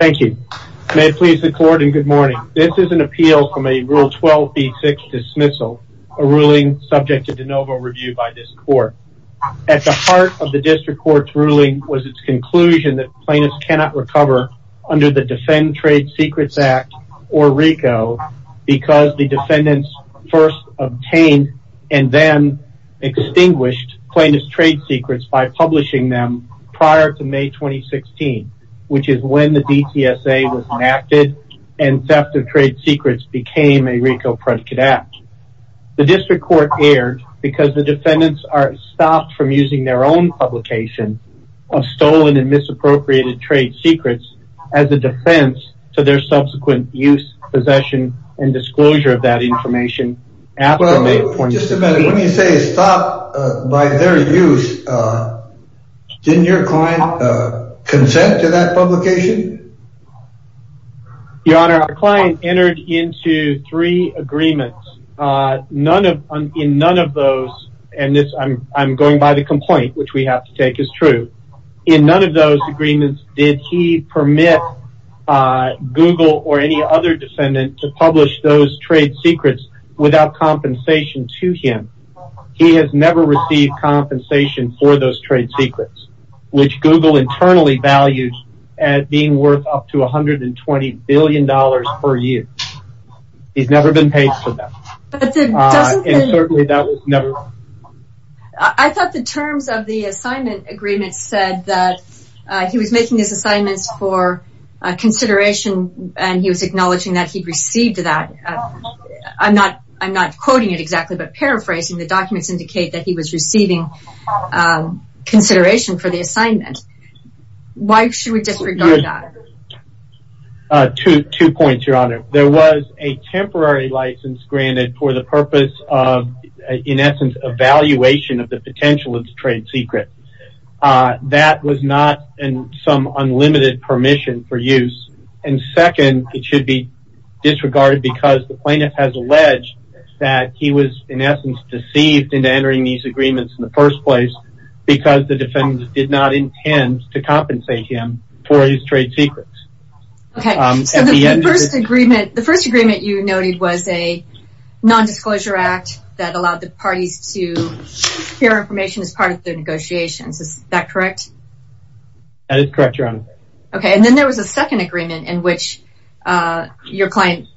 Thank you. May it please the court and good morning. This is an appeal from a Rule 12b6 dismissal, a ruling subject to de novo review by this court. At the heart of the district court's ruling was its conclusion that plaintiffs cannot recover under the Defend Trade Secrets Act or RICO because the defendants first obtained and then extinguished plaintiff's trade secrets by when the DTSA was enacted and theft of trade secrets became a RICO predicate act. The district court erred because the defendants are stopped from using their own publication of stolen and misappropriated trade secrets as a defense to their subsequent use, possession, and disclosure of that information. But just a minute, when you say stop by their use, didn't your client consent to that publication? Your honor, our client entered into three agreements. None of, in none of those, and this I'm, I'm going by the complaint which we have to take as true. In none of those agreements did he permit Google or any other defendant to publish those trade secrets without compensation to him. He has never received compensation for those trade secrets which Google internally values as being worth up to 120 billion dollars per year. He's never been paid for that. But certainly that was never. I thought the terms of the assignment agreement said that he was making his assignments for consideration and he was acknowledging that he received that. I'm not, I'm not quoting it exactly, but paraphrasing the documents indicate that he was receiving consideration for the assignment. Why should we disregard that? Two, two points, your honor. There was a temporary license granted for the purpose of, in essence, evaluation of the potential of the trade secret. That was not in some unlimited permission for use. And second, it should be disregarded because the plaintiff has alleged that he was, in essence, deceived into entering these agreements in the first place because the defendant did not intend to compensate him for his trade secrets. Okay, so the first agreement, the first agreement you noted was a non-disclosure act that allowed the parties to share information as part of their negotiations. Is that correct? That is correct, your honor. Okay, and then there was a second agreement in which your client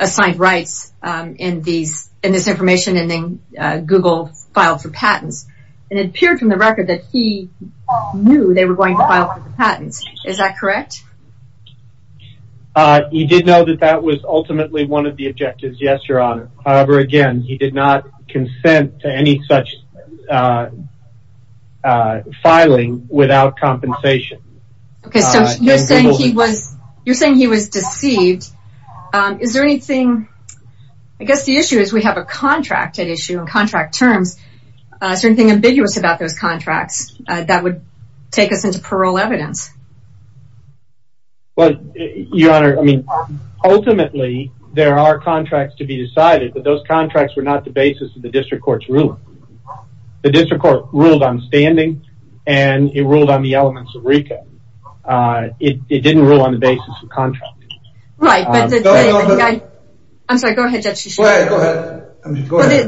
assigned rights in these, in this information and then Google filed for patents. And it appeared from the record that he knew they were going to file for the patents. Is that correct? He did know that that was ultimately one of the objectives, yes, your honor. However, again, he did not consent to any such filing without compensation. Okay, so you're saying he was, you're saying he was deceived. Is there anything, I guess the issue is we have a contracted issue in contract terms. Is there anything ambiguous about those contracts that would take us into parole evidence? Well, your honor, I mean, ultimately there are contracts to be decided, but those contracts were not the basis of the district court's ruling. The district court ruled on standing and it ruled on the elements of RICO. It didn't rule on the basis of contract. Right. I'm sorry. Go ahead.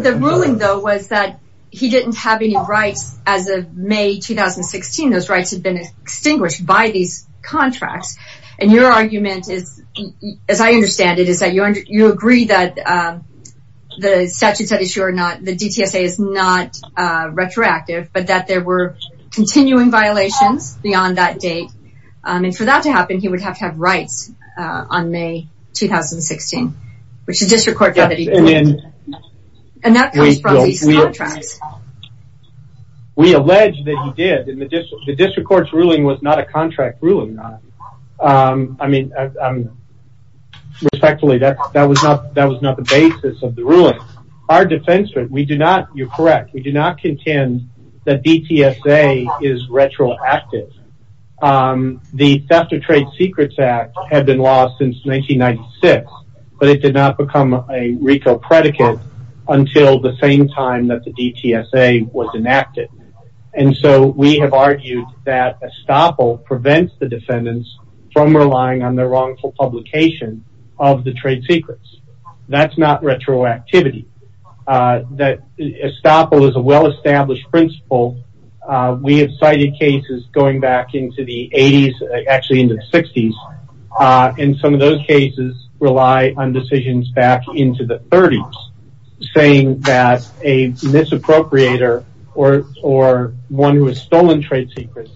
The ruling though was that he didn't have any rights as of May 2016. Those rights had been extinguished by these contracts. And your argument is, as I understand it, is that you agree that the statute said issue or not, the DTSA is not retroactive, but that there were continuing violations beyond that date. And for that to happen, he would have to have rights, uh, on May 2016, which is district court. And that comes from these contracts. We allege that he did in the district, the district court's ruling was not a contract ruling. Um, I mean, um, respectfully, that, that was not, that was not the basis of the ruling. Our defense, we do not, you're correct. We do not contend that DTSA is retroactive. Um, the theft of trade secrets act had been lost since 1996, but it did not become a RICO predicate until the same time that the DTSA was enacted. And so we have argued that estoppel prevents the defendants from relying on their wrongful publication of the trade secrets. That's not retroactivity. Uh, that estoppel is a well established principle. Uh, we have cited cases going back into the eighties, actually into the sixties. Uh, and some of those cases rely on decisions back into the thirties saying that a misappropriator or, or one who has stolen trade secrets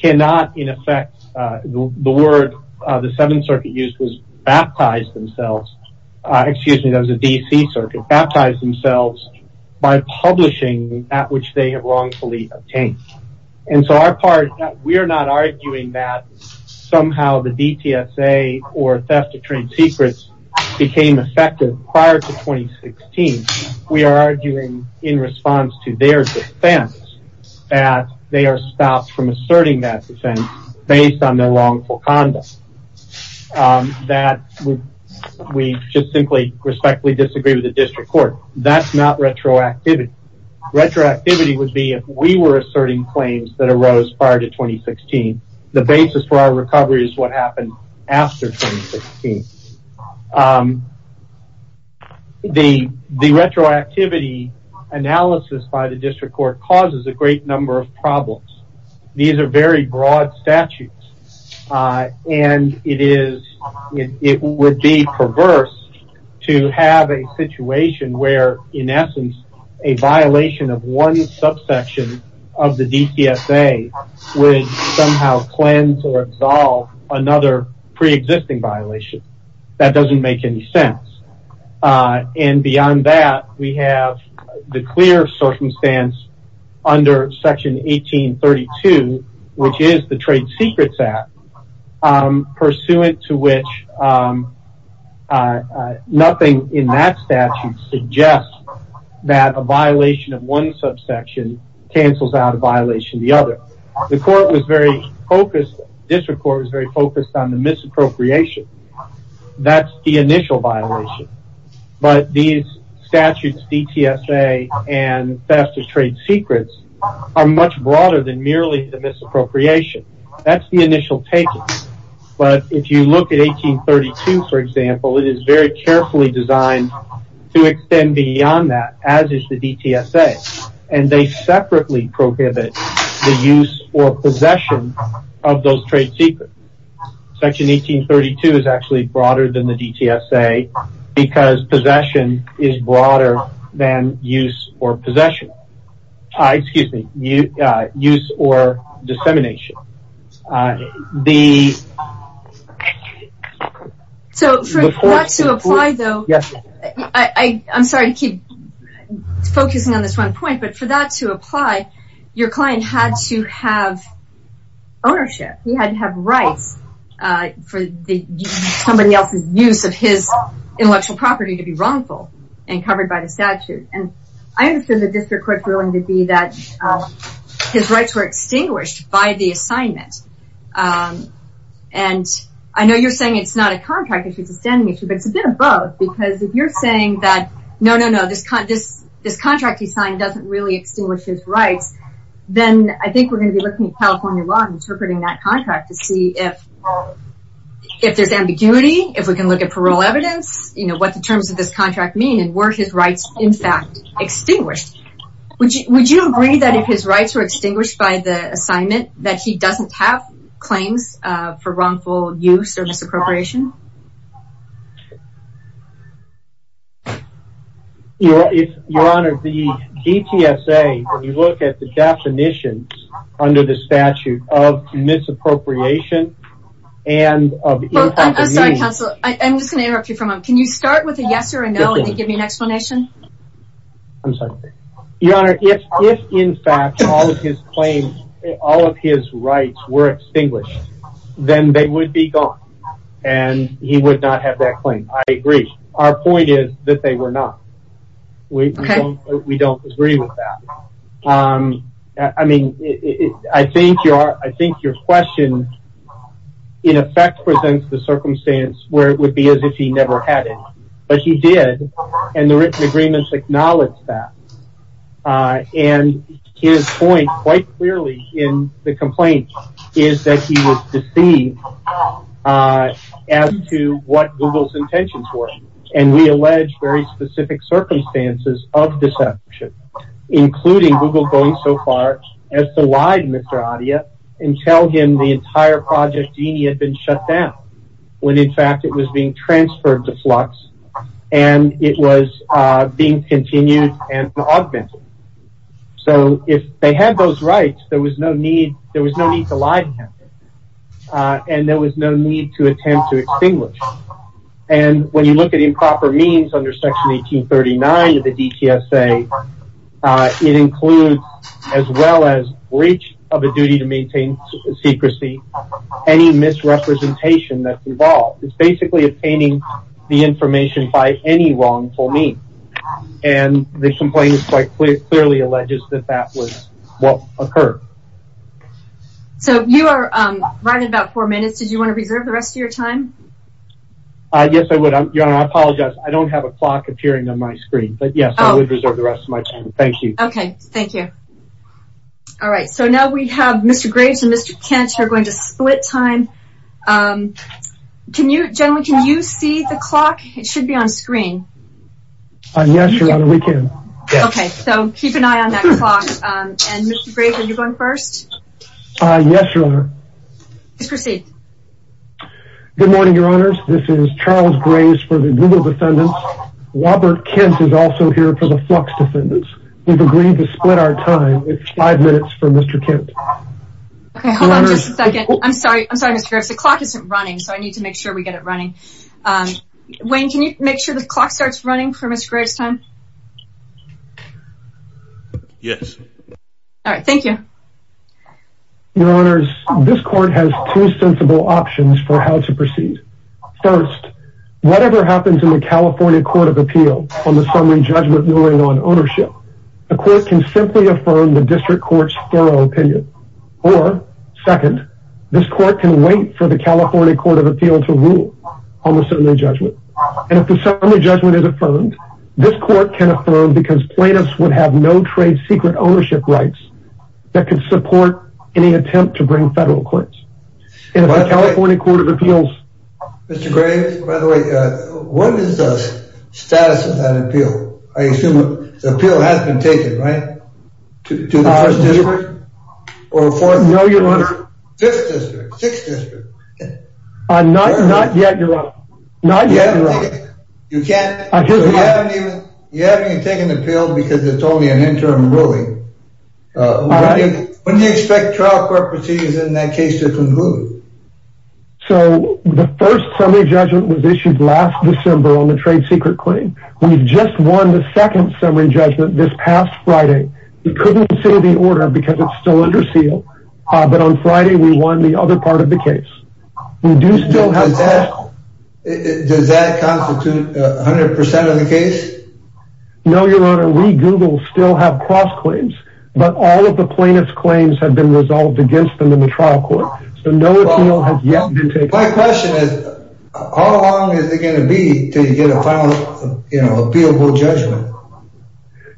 cannot in effect, uh, the word, uh, the seventh circuit used was baptized themselves. Uh, excuse me, that was a DC circuit baptized themselves by publishing at which they have wrongfully obtained. And so our part, we are not arguing that somehow the DTSA or theft of trade secrets became effective prior to 2016. We are arguing in response to their defense that they are stopped from asserting that based on their wrongful conduct. Um, that we just simply respectfully disagree with the district court. That's not retroactivity. Retroactivity would be if we were asserting claims that arose prior to 2016, the basis for our recovery is what happened after 2016. Um, the retroactivity analysis by the district court causes a great number of problems. These are very broad statutes. Uh, and it is, it would be perverse to have a situation where in essence, a violation of one subsection of the DTSA would somehow cleanse or absolve another preexisting violation. That doesn't make any sense. Uh, and beyond that, we have the clear circumstance under section 1832, which is the trade secrets act, um, pursuant to which, um, uh, nothing in that statute suggests that a violation of one subsection cancels out a violation of the other. The court was very focused. District court was very focused on misappropriation. That's the initial violation, but these statutes DTSA and faster trade secrets are much broader than merely the misappropriation. That's the initial take. But if you look at 1832, for example, it is very carefully designed to extend beyond that as is the DTSA and they is actually broader than the DTSA because possession is broader than use or possession. Uh, excuse me, use or dissemination. Uh, the... So for that to apply though, I'm sorry to keep focusing on this one point, but for that to apply, your client had to have ownership. He had to have rights, uh, for the somebody else's use of his intellectual property to be wrongful and covered by the statute. And I understood the district court's ruling to be that his rights were extinguished by the assignment. Um, and I know you're saying it's not a contract issue. It's a standing issue, but it's a bit of both because if you're saying that, no, no, no, this con this, this contract he signed doesn't really extinguish his rights, then I think we're going to be looking at California law and interpreting that contract to see if, if there's ambiguity, if we can look at parole evidence, you know, what the terms of this contract mean and where his rights in fact extinguished. Would you, would you agree that if his rights were extinguished by the assignment that he doesn't have claims, uh, for wrongful use or misappropriation? Your Honor, the DTSA, when you look at the definitions under the statute of misappropriation and of, I'm sorry, counsel, I'm just going to interrupt you from him. Can you start with a yes or a no and then give me an explanation? I'm sorry. Your Honor, if, if in fact all of his claims, all of his rights were extinguished, then they would be gone. And, and, and, and, he would not have that claim. I agree. Our point is that they were not, we, we don't agree with that. Um, I mean, I think your, I think your question in effect presents the circumstance where it would be as if he never had it, but he did and the written agreements acknowledge that. Uh, and his point quite clearly in the complaint is that he was deceived, uh, as to what Google's intentions were. And we allege very specific circumstances of deception, including Google going so far as to lie to Mr. Adia and tell him the entire Project Dini had been shut down. When in fact it was being transferred to flux and it was, uh, being continued and augmented. So if they had those rights, there was no need, there was no need to lie to him. Uh, and there was no need to attempt to extinguish. And when you look at improper means under section 1839 of the DTSA, uh, it includes as well as breach of a duty to maintain secrecy, any misrepresentation that's involved. It's basically obtaining the information by any wrongful means. And the complaint is quite clear, clearly alleges that that was what occurred. So you are, um, right at about four minutes. Did you want to reserve the rest of your time? Uh, yes, I would. I apologize. I don't have a clock appearing on my screen, but yes, I would reserve the rest of my time. Thank you. Okay. Thank you. All right. So now we have Mr. Kent, you're going to split time. Um, can you generally, can you see the clock? It should be on screen. Yes, Your Honor, we can. Okay. So keep an eye on that clock. Um, and Mr. Graves, are you going first? Uh, yes, Your Honor. Please proceed. Good morning, Your Honors. This is Charles Graves for the Google Defendants. Robert Kent is also here for the Flux Defendants. We've agreed to split our time. It's five minutes for Mr. Kent. Okay. Hold on just a second. I'm sorry. I'm sorry, Mr. Graves. The clock isn't running, so I need to make sure we get it running. Um, Wayne, can you make sure the clock starts running for Mr. Graves' time? Yes. All right. Thank you. Your Honors, this court has two sensible options for how to proceed. First, whatever happens in the California Court of Appeal on the summary ruling on ownership, the court can simply affirm the district court's thorough opinion. Or second, this court can wait for the California Court of Appeal to rule on the summary judgment. And if the summary judgment is affirmed, this court can affirm because plaintiffs would have no trade secret ownership rights that could support any attempt to bring federal claims. And if the appeal has been taken, right? To the first district? Or fourth district? No, your Honor. Fifth district? Sixth district? Not yet, your Honor. Not yet, your Honor. You can't? You haven't even taken the appeal because it's only an interim ruling. When do you expect trial court proceedings in that case to conclude? So, the first summary judgment was issued last December on the trade secret claim. We've just won the second summary judgment this past Friday. We couldn't say the order because it's still under seal. But on Friday, we won the other part of the case. Does that constitute 100% of the case? No, your Honor. We, Google, still have cross claims. But all of the plaintiff's claims have been resolved against them in the trial court. So, no appeal has yet been taken. My question is, how long is it going to be until you get a final, you know, appealable judgment?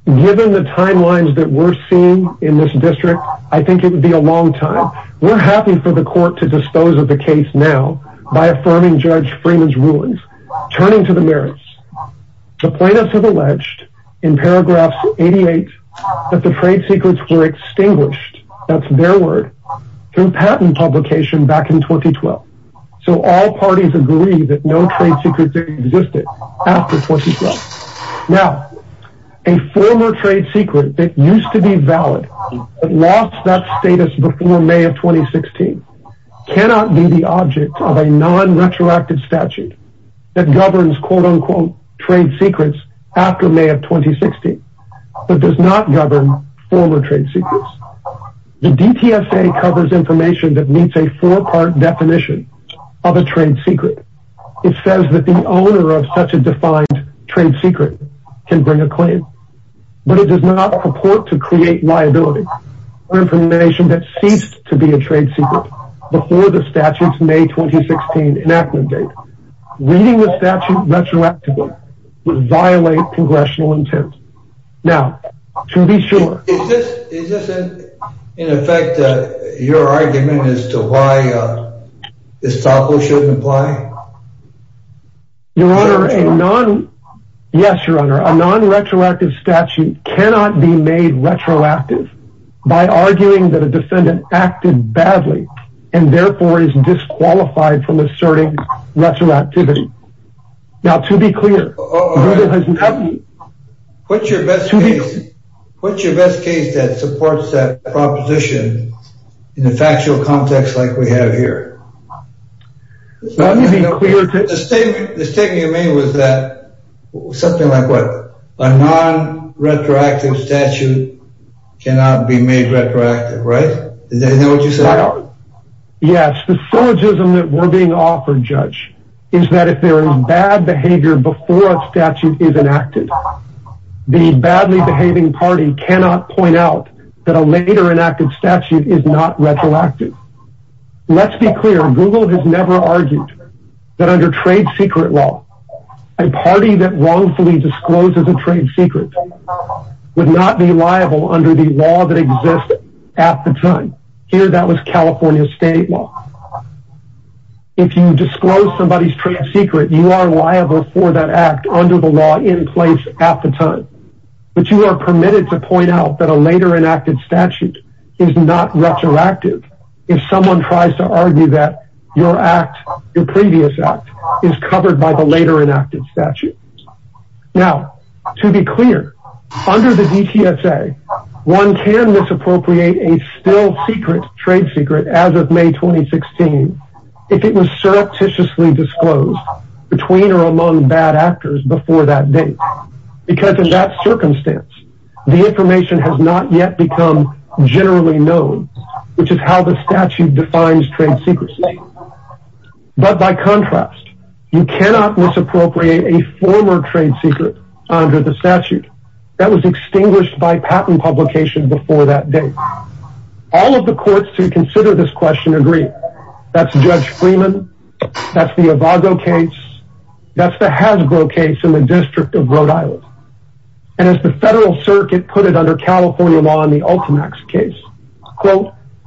Given the timelines that we're seeing in this district, I think it would be a long time. We're happy for the court to dispose of the case now by affirming Judge Freeman's rulings. Turning to the merits, the plaintiffs have alleged in paragraphs 88 that the trade secrets were extinguished. That's their word, through patent publication back in 2012. So, all parties agree that no trade secrets existed after 2012. Now, a former trade secret that used to be valid but lost that status before May of 2016 cannot be the object of a non-retroactive statute that governs, quote unquote, trade secrets after May of 2016, but does not govern former trade secrets. The DTSA covers information that meets a four-part definition of a trade secret. It says that the owner of such a defined trade secret can bring a claim, but it does not purport to create liability for information that ceased to be a trade secret before the statute's May 2016 enactment date. Reading the statute retroactively would violate congressional intent. Now, to be Is this, in effect, your argument as to why estoppel shouldn't apply? Your Honor, a non-retroactive statute cannot be made retroactive by arguing that a defendant acted badly and therefore is disqualified from asserting retroactivity. Now, to be clear, oh, what's your best case? What's your best case that supports that proposition in a factual context like we have here? The statement you made was that something like what? A non-retroactive statute cannot be made retroactive, right? Is that what you said? Yes, the syllogism that we're being offered, Judge, is that if there is bad behavior before a statute is enacted, the badly behaving party cannot point out that a later enacted statute is not retroactive. Let's be clear. Google has never argued that under trade secret law, a party that wrongfully discloses a trade secret would not be liable under the law that exists at the time. Here, that was California state law. If you disclose somebody's trade secret, you are liable for that act under the law in place at the time. But you are permitted to point out that a later enacted statute is not retroactive if someone tries to argue that your act, your previous act, is covered by the later enacted statute. Now, to be clear, under the DTSA, one can misappropriate a still secret trade secret as of May 2016 if it was surreptitiously disclosed between or among bad actors before that date. Because in that circumstance, the information has not yet become generally known, which is how the statute defines trade secrecy. But by contrast, you cannot misappropriate a former trade secret under the statute that was extinguished by patent publication before that date. All of the courts who consider this question agree. That's Judge Freeman. That's the Avago case. That's the Hasbro case in the District of Rhode Island. And as the Federal Circuit put it under California law in the Ultimax case,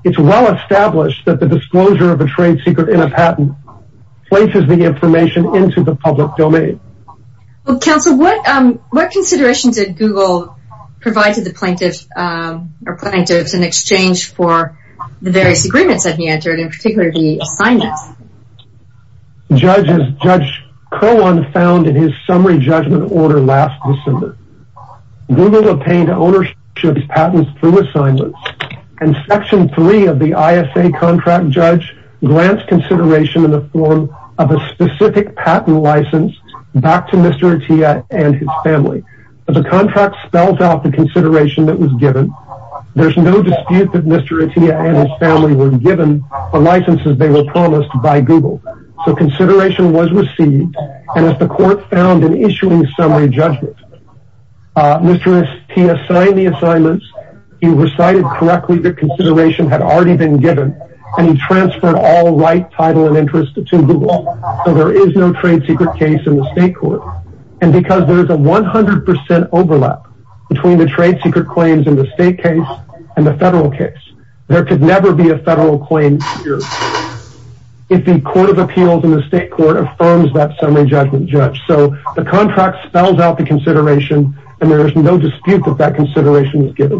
it's well established that the disclosure of a trade secret in a patent places the information into the public domain. Well, counsel, what considerations did Google provide to the plaintiffs in exchange for the various agreements that he entered, in particular the assignments? Judge Crowan found in his summary judgment order last December. Google obtained ownership's patents through assignments, and Section 3 of the ISA contract grants consideration in the form of a specific patent license back to Mr. Atiyah and his family. But the contract spells out the consideration that was given. There's no dispute that Mr. Atiyah and his family were given the licenses they were promised by Google. So consideration was received, and as the court found in issuing summary judgment, Mr. Atiyah assigned the assignments. He recited correctly that consideration had already been given, and he transferred all right title and interest to Google. So there is no trade secret case in the state court. And because there's a 100% overlap between the trade secret claims in the state case and the federal case, there could never be a federal claim here if the Court of Appeals in the state court affirms that summary judgment, Judge. So the contract spells out the consideration, and there is no dispute that that consideration was given.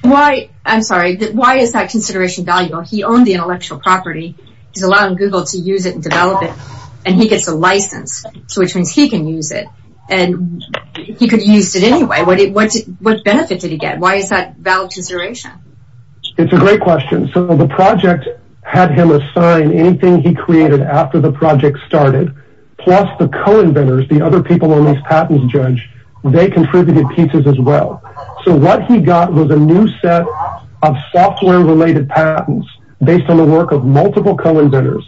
Why, I'm sorry, why is that consideration valuable? He owned the intellectual property. He's allowing Google to use it and develop it, and he gets a license. So which means he can use it, and he could use it anyway. What benefit did he get? Why is that a valid consideration? It's a great question. So the project had him assign anything he created after the project started, plus the co-inventors, the other people on these patents, Judge, they contributed pieces as well. So what he got was a new set of software related patents based on the work of multiple co-inventors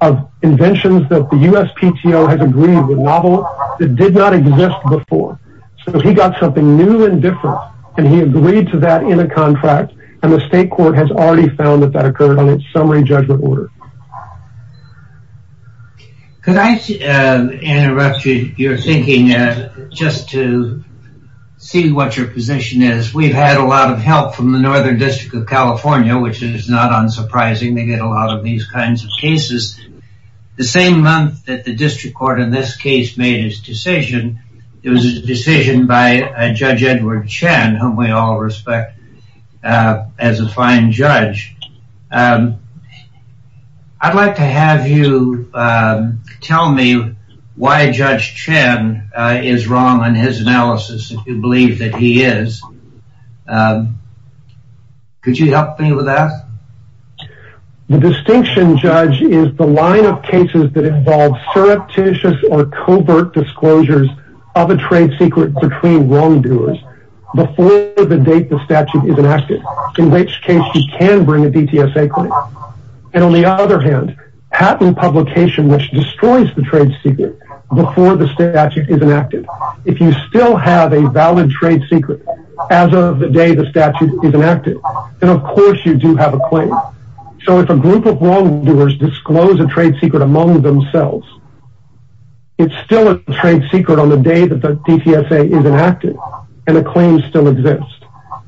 of inventions that the USPTO has agreed with novel that did not exist before. So he got something new and different, and he agreed to that in a contract, and the state court has already found that that occurred on its summary judgment order. Could I interrupt your thinking just to see what your position is? We've had a lot of help from the Northern District of California, which is not unsurprising. They get a lot of these kinds of cases. The same month that the district court in this case made his decision, it was a decision by Judge Edward Chen, whom we all respect as a fine judge. I'd like to have you tell me why Judge Chen is wrong on his analysis, if you believe that he is. Could you help me with that? The distinction, Judge, is the line of cases that involve surreptitious or covert disclosures of a trade secret between wrongdoers before the date the statute is enacted, in which case he can bring a DTSA claim. And on the other hand, patent publication which destroys the trade secret before the statute is enacted. If you still have a valid trade secret as of the day the statute is enacted, then of course you do have a claim. So if a group of wrongdoers disclose a trade secret among themselves, it's still a trade secret on the day that the DTSA is enacted, and the claim still exists.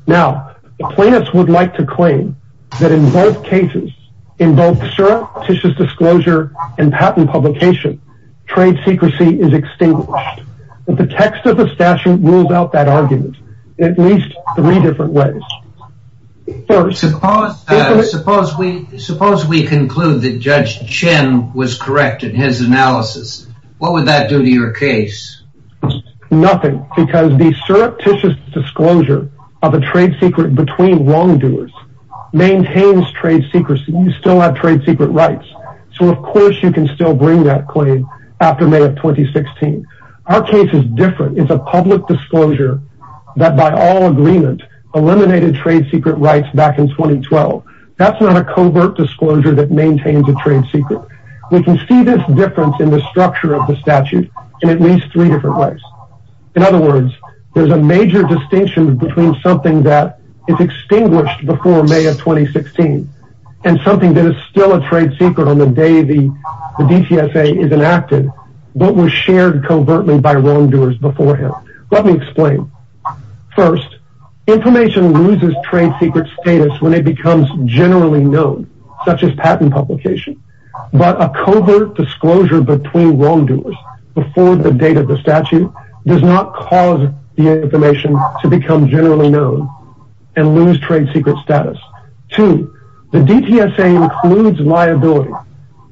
Now, the plaintiffs would like to claim that in both cases, in both surreptitious disclosure and patent publication, trade secrecy is extinguished. The text of the statute rules out that argument in at least three different ways. First, suppose we conclude that Judge Chen was correct in his analysis. What would that do to your case? Nothing, because the surreptitious disclosure of a trade secret between wrongdoers maintains trade secrecy. You still have trade secret rights, so of course you can still bring that claim after May of 2016. Our case is different. It's a public disclosure that by all agreement eliminated trade secret rights back in 2012. That's not a covert disclosure that maintains a trade secret. We can see this difference in the distinction between something that is extinguished before May of 2016 and something that is still a trade secret on the day the DTSA is enacted, but was shared covertly by wrongdoers beforehand. Let me explain. First, information loses trade secret status when it becomes generally known, such as patent publication. But a covert disclosure between wrongdoers before the date does not cause the information to become generally known and lose trade secret status. Two, the DTSA includes liability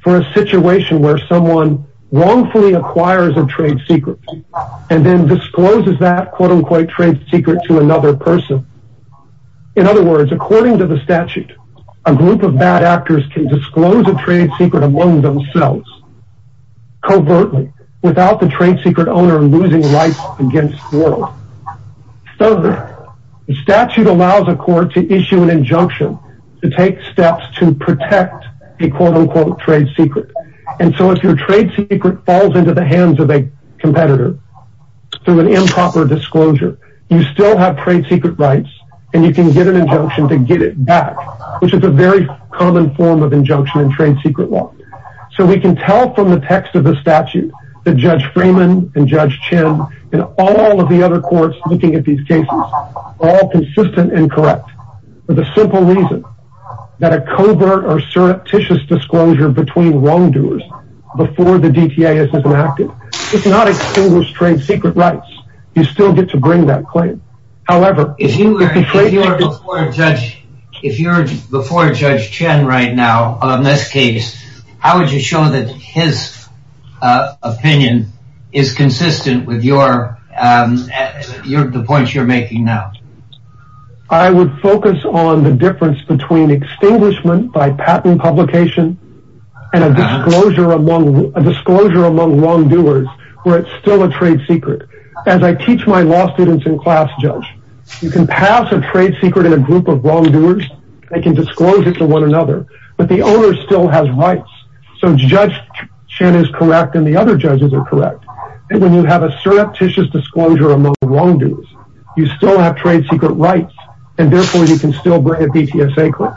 for a situation where someone wrongfully acquires a trade secret and then discloses that quote-unquote trade secret to another person. In other words, according to the statute, a group of bad actors can disclose a trade secret among themselves covertly without the trade secret owner losing rights against the world. Third, the statute allows a court to issue an injunction to take steps to protect a quote-unquote trade secret. And so if your trade secret falls into the hands of a competitor through an improper disclosure, you still have trade secret rights and you can get an injunction to get it back, which is a very common form of injunction in trade secret law. So we can tell from the text of the statute that Judge Freeman and Judge Chin and all of the other courts looking at these cases are all consistent and correct for the simple reason that a covert or surreptitious disclosure between wrongdoers before the DTSA is enacted does not extinguish trade secret rights. You still get to bring that claim. However, if you were before Judge Chin right now on this case, how would you show that his opinion is consistent with the points you're making now? I would focus on the difference between extinguishment by patent publication and a disclosure among wrongdoers where it's still a trade secret. As I teach my law students in class, Judge, you can pass a trade secret in a group of wrongdoers. They can disclose it to one another, but the owner still has rights. So Judge Chin is correct and the other judges are correct. And when you have a surreptitious disclosure among wrongdoers, you still have trade secret rights and therefore you can still bring a DTSA claim.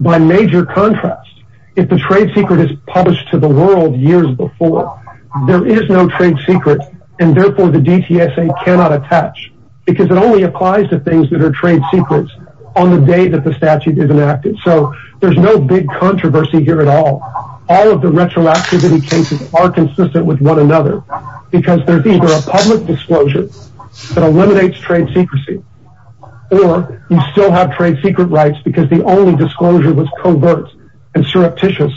By major contrast, if the trade secret is published to the world years before, there is no trade secret and therefore the DTSA cannot attach because it only applies to things that are trade secrets on the day that the statute is enacted. So there's no big controversy here at all. All of the retroactivity cases are consistent with one another because there's either a public disclosure that eliminates trade secrecy or you still have trade secret rights because the only disclosure was covert and surreptitious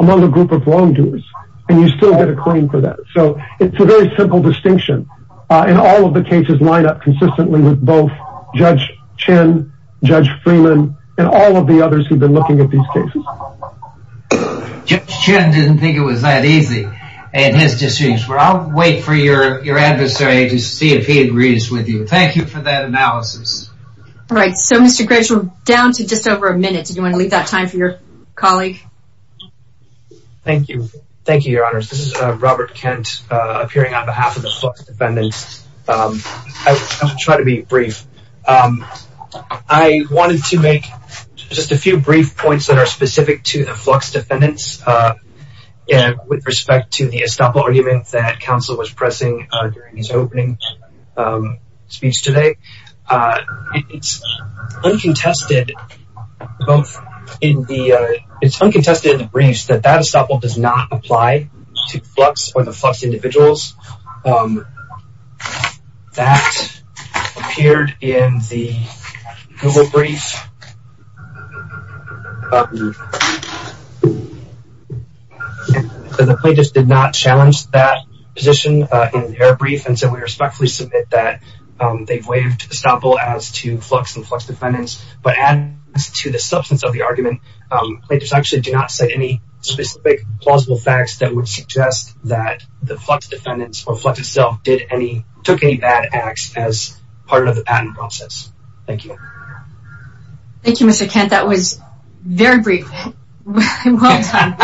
among a group of wrongdoers and you still get a claim for that. So it's a very simple distinction and all of the cases line up consistently with both Judge Chin, Judge Freeman, and all of the others who've been looking at these cases. Judge Chin didn't think it was that easy in his distinction. I'll wait for your adversary to see if he agrees with you. Thank you for that analysis. All right, so Mr. Gretschel, down to just over a minute. Did you want to leave that time for your colleague? Thank you. Thank you, your honors. This is Robert Kent appearing on behalf of the Flux Defendants. I'll try to be brief. I wanted to make just a few brief points that are specific to the Flux Defendants with respect to the estoppel argument that counsel was pressing during his opening speech today. It's uncontested in the briefs that that estoppel does not apply to Flux or the Flux individuals. That appeared in the Google brief. The plaintiffs did not challenge that position in their brief and so we respectfully submit that they've waived estoppel as to Flux and Flux Defendants. But as to the substance of the that the Flux Defendants or Flux itself took any bad acts as part of the patent process. Thank you. Thank you, Mr. Kent. That was very brief. Well done.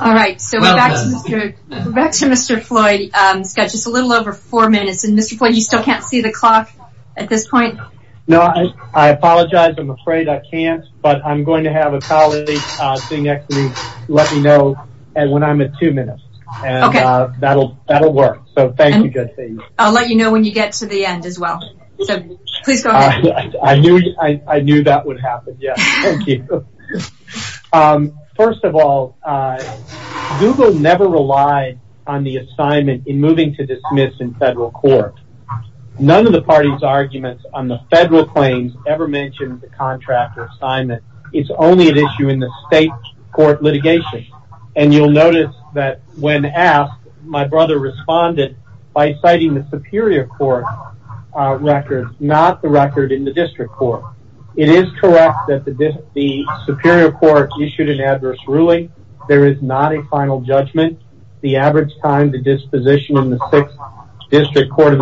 All right, so back to Mr. Floyd. He's got just a little over four minutes. Mr. Floyd, you still can't see the clock at this point? No, I apologize. I'm afraid I can't, but I'm going to have a colleague sitting next to me let me know when I'm at two minutes and that'll work. So thank you, good thing. I'll let you know when you get to the end as well. So please go ahead. I knew that would happen. Yeah, thank you. First of all, Google never relied on the assignment in moving to dismiss in federal court. None of the party's arguments on the federal claims ever mentioned the contractor assignment. It's only an issue in the state court litigation. And you'll notice that when asked, my brother responded by citing the Superior Court records, not the record in the district court. It is correct that the Superior Court issued an adverse ruling. There is not a final judgment. The average time to disposition in the sixth district court of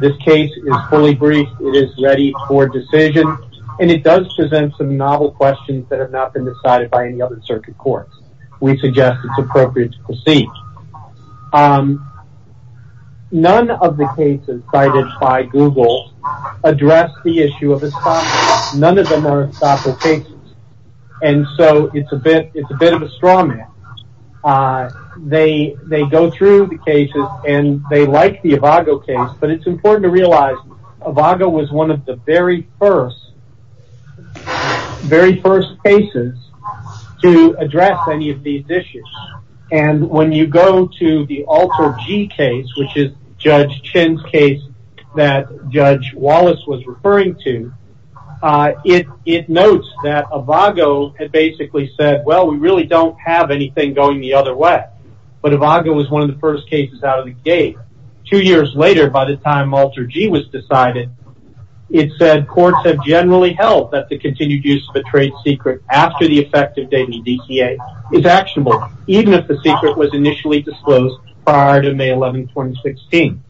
this case is fully briefed. It is ready for decision. And it does present some novel questions that have not been decided by any other circuit courts. We suggest it's appropriate to proceed. None of the cases cited by Google address the issue of this. None of them are strong. They go through the cases and they like the case, but it's important to realize it was one of the very first cases to address any of these issues. And when you go to the alter G case, which is Judge Chen's case that Judge Wallace was referring to, it notes that it basically said, well, we really don't have anything going the other way. But it was one of the first cases out of the gate. Two years later, by the time alter G was decided, it said courts have generally held that the continued use of a trade secret after the effective date is actionable, even if the secret was initially disclosed prior to May 11, 2016.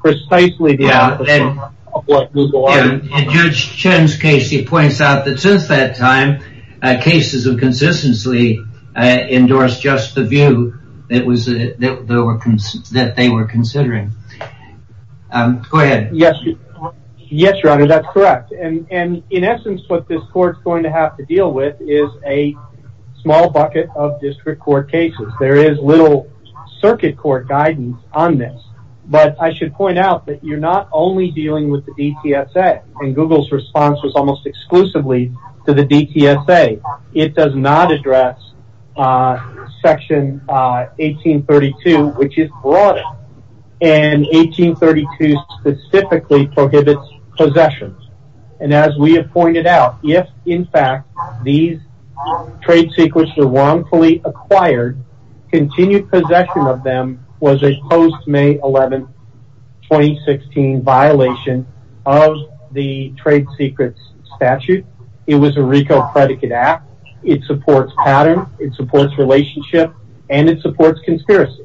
Precisely the opposite of what Google said at that time. Cases have consistently endorsed just the view that they were considering. Go ahead. Yes, your honor, that's correct. And in essence, what this court is going to have to deal with is a small bucket of district court cases. There is little circuit court guidance on this. But I should point out that you're not only dealing with the DTSA. And Google's response was almost exclusively to the DTSA. It does not address section 1832, which is broader. And 1832 specifically prohibits possessions. And as we have pointed out, if, in fact, these trade secrets are wrongfully acquired, continued possession of them was a post May 11, 2016 violation of the trade secrets statute. It was a RICO predicate act. It supports pattern. It supports relationship. And it supports conspiracy.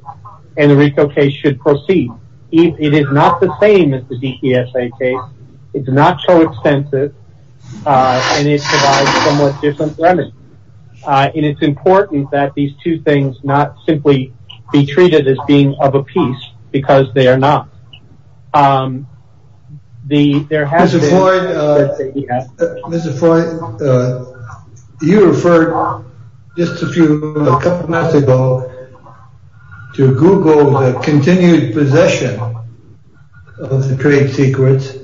And the RICO case should proceed. It is not the same as the DTSA case. It's not so extensive. And it provides somewhat different remedies. And it's important that these two things not simply be treated as being of a piece because they are not. Mr. Floyd, you referred just a few minutes ago to Google's continued possession of the trade secrets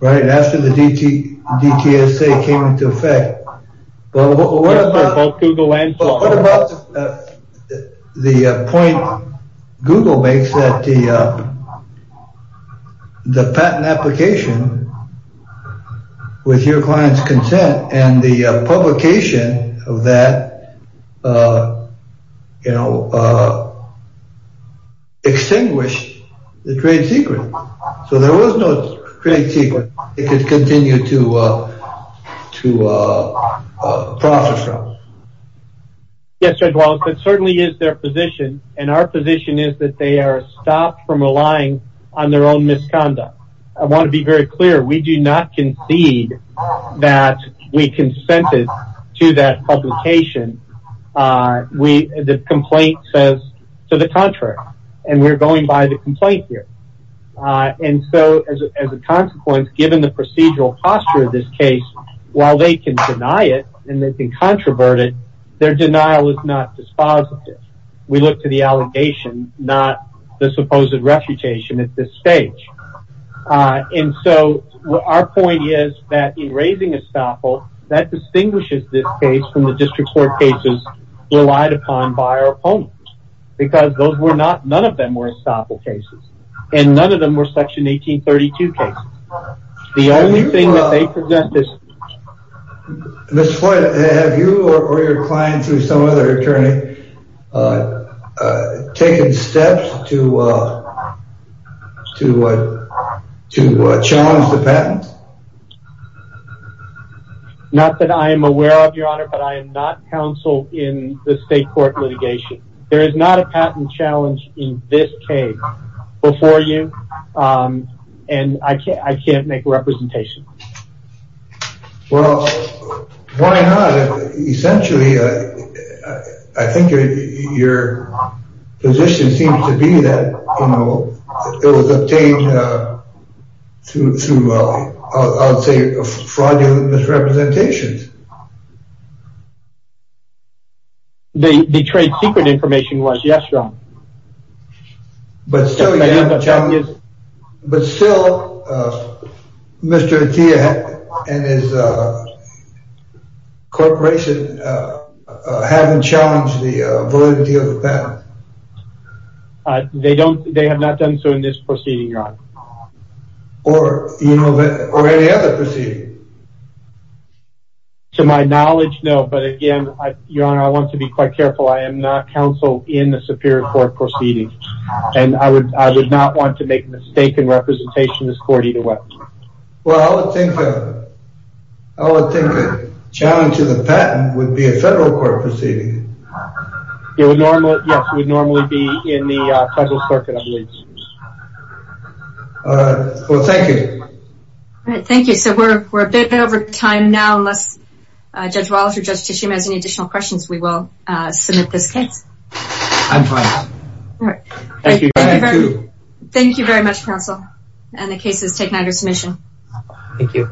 right after the DTSA came into effect. Well, what about the point Google makes that the patent application with your client's consent and the publication of that, you know, extinguished the trade secret. So there was no trade secret. It could continue to process them. Yes, Judge Wallace, that certainly is their position. And our position is that they are stopped from relying on their own misconduct. I want to be very clear. We do not concede that we consented to that publication. The complaint says to the contrary. And we're going by the complaint here. And so as a consequence, given the procedural posture of this case, while they can deny it and they can controvert it, their denial is not dispositive. We look to the allegation, not the supposed refutation at this stage. And so our point is that in raising estoppel, that distinguishes this case from the district court cases relied upon by our opponents. Because those were not none of them were estoppel cases. And none of them were section 1832 cases. The only thing that they present this. Miss Floyd, have you or your clients or some other attorney taken steps to challenge the patent? Not that I am aware of, Your Honor, but I am not counsel in the state court litigation. There is not a patent challenge in this case before you. And I can't make a representation. Well, why not? Essentially, I think your position seems to be that, you know, it was obtained through, I would say, fraudulent misrepresentations. The trade secret information was, yes, Your Honor. But still, Mr. Atiyah and his corporation haven't challenged the validity of the patent. They don't, they have not done so in this proceeding, Your Honor. Or, you know, or any other proceeding. To my knowledge, no. But again, Your Honor, I want to be quite careful. I am not counsel in the superior court proceeding. And I would not want to make a mistake in representation this court either way. Well, I would think a challenge to the patent would be a federal court proceeding. It would normally, yes, it would normally be in the federal circuit, I believe. Well, thank you. All right, thank you. So we're a bit over time now. Unless Judge Wallace or Judge Tishium has any additional questions, we will submit this case. I'm fine. Thank you. Thank you very much, counsel. And the case is taken under submission. Thank you.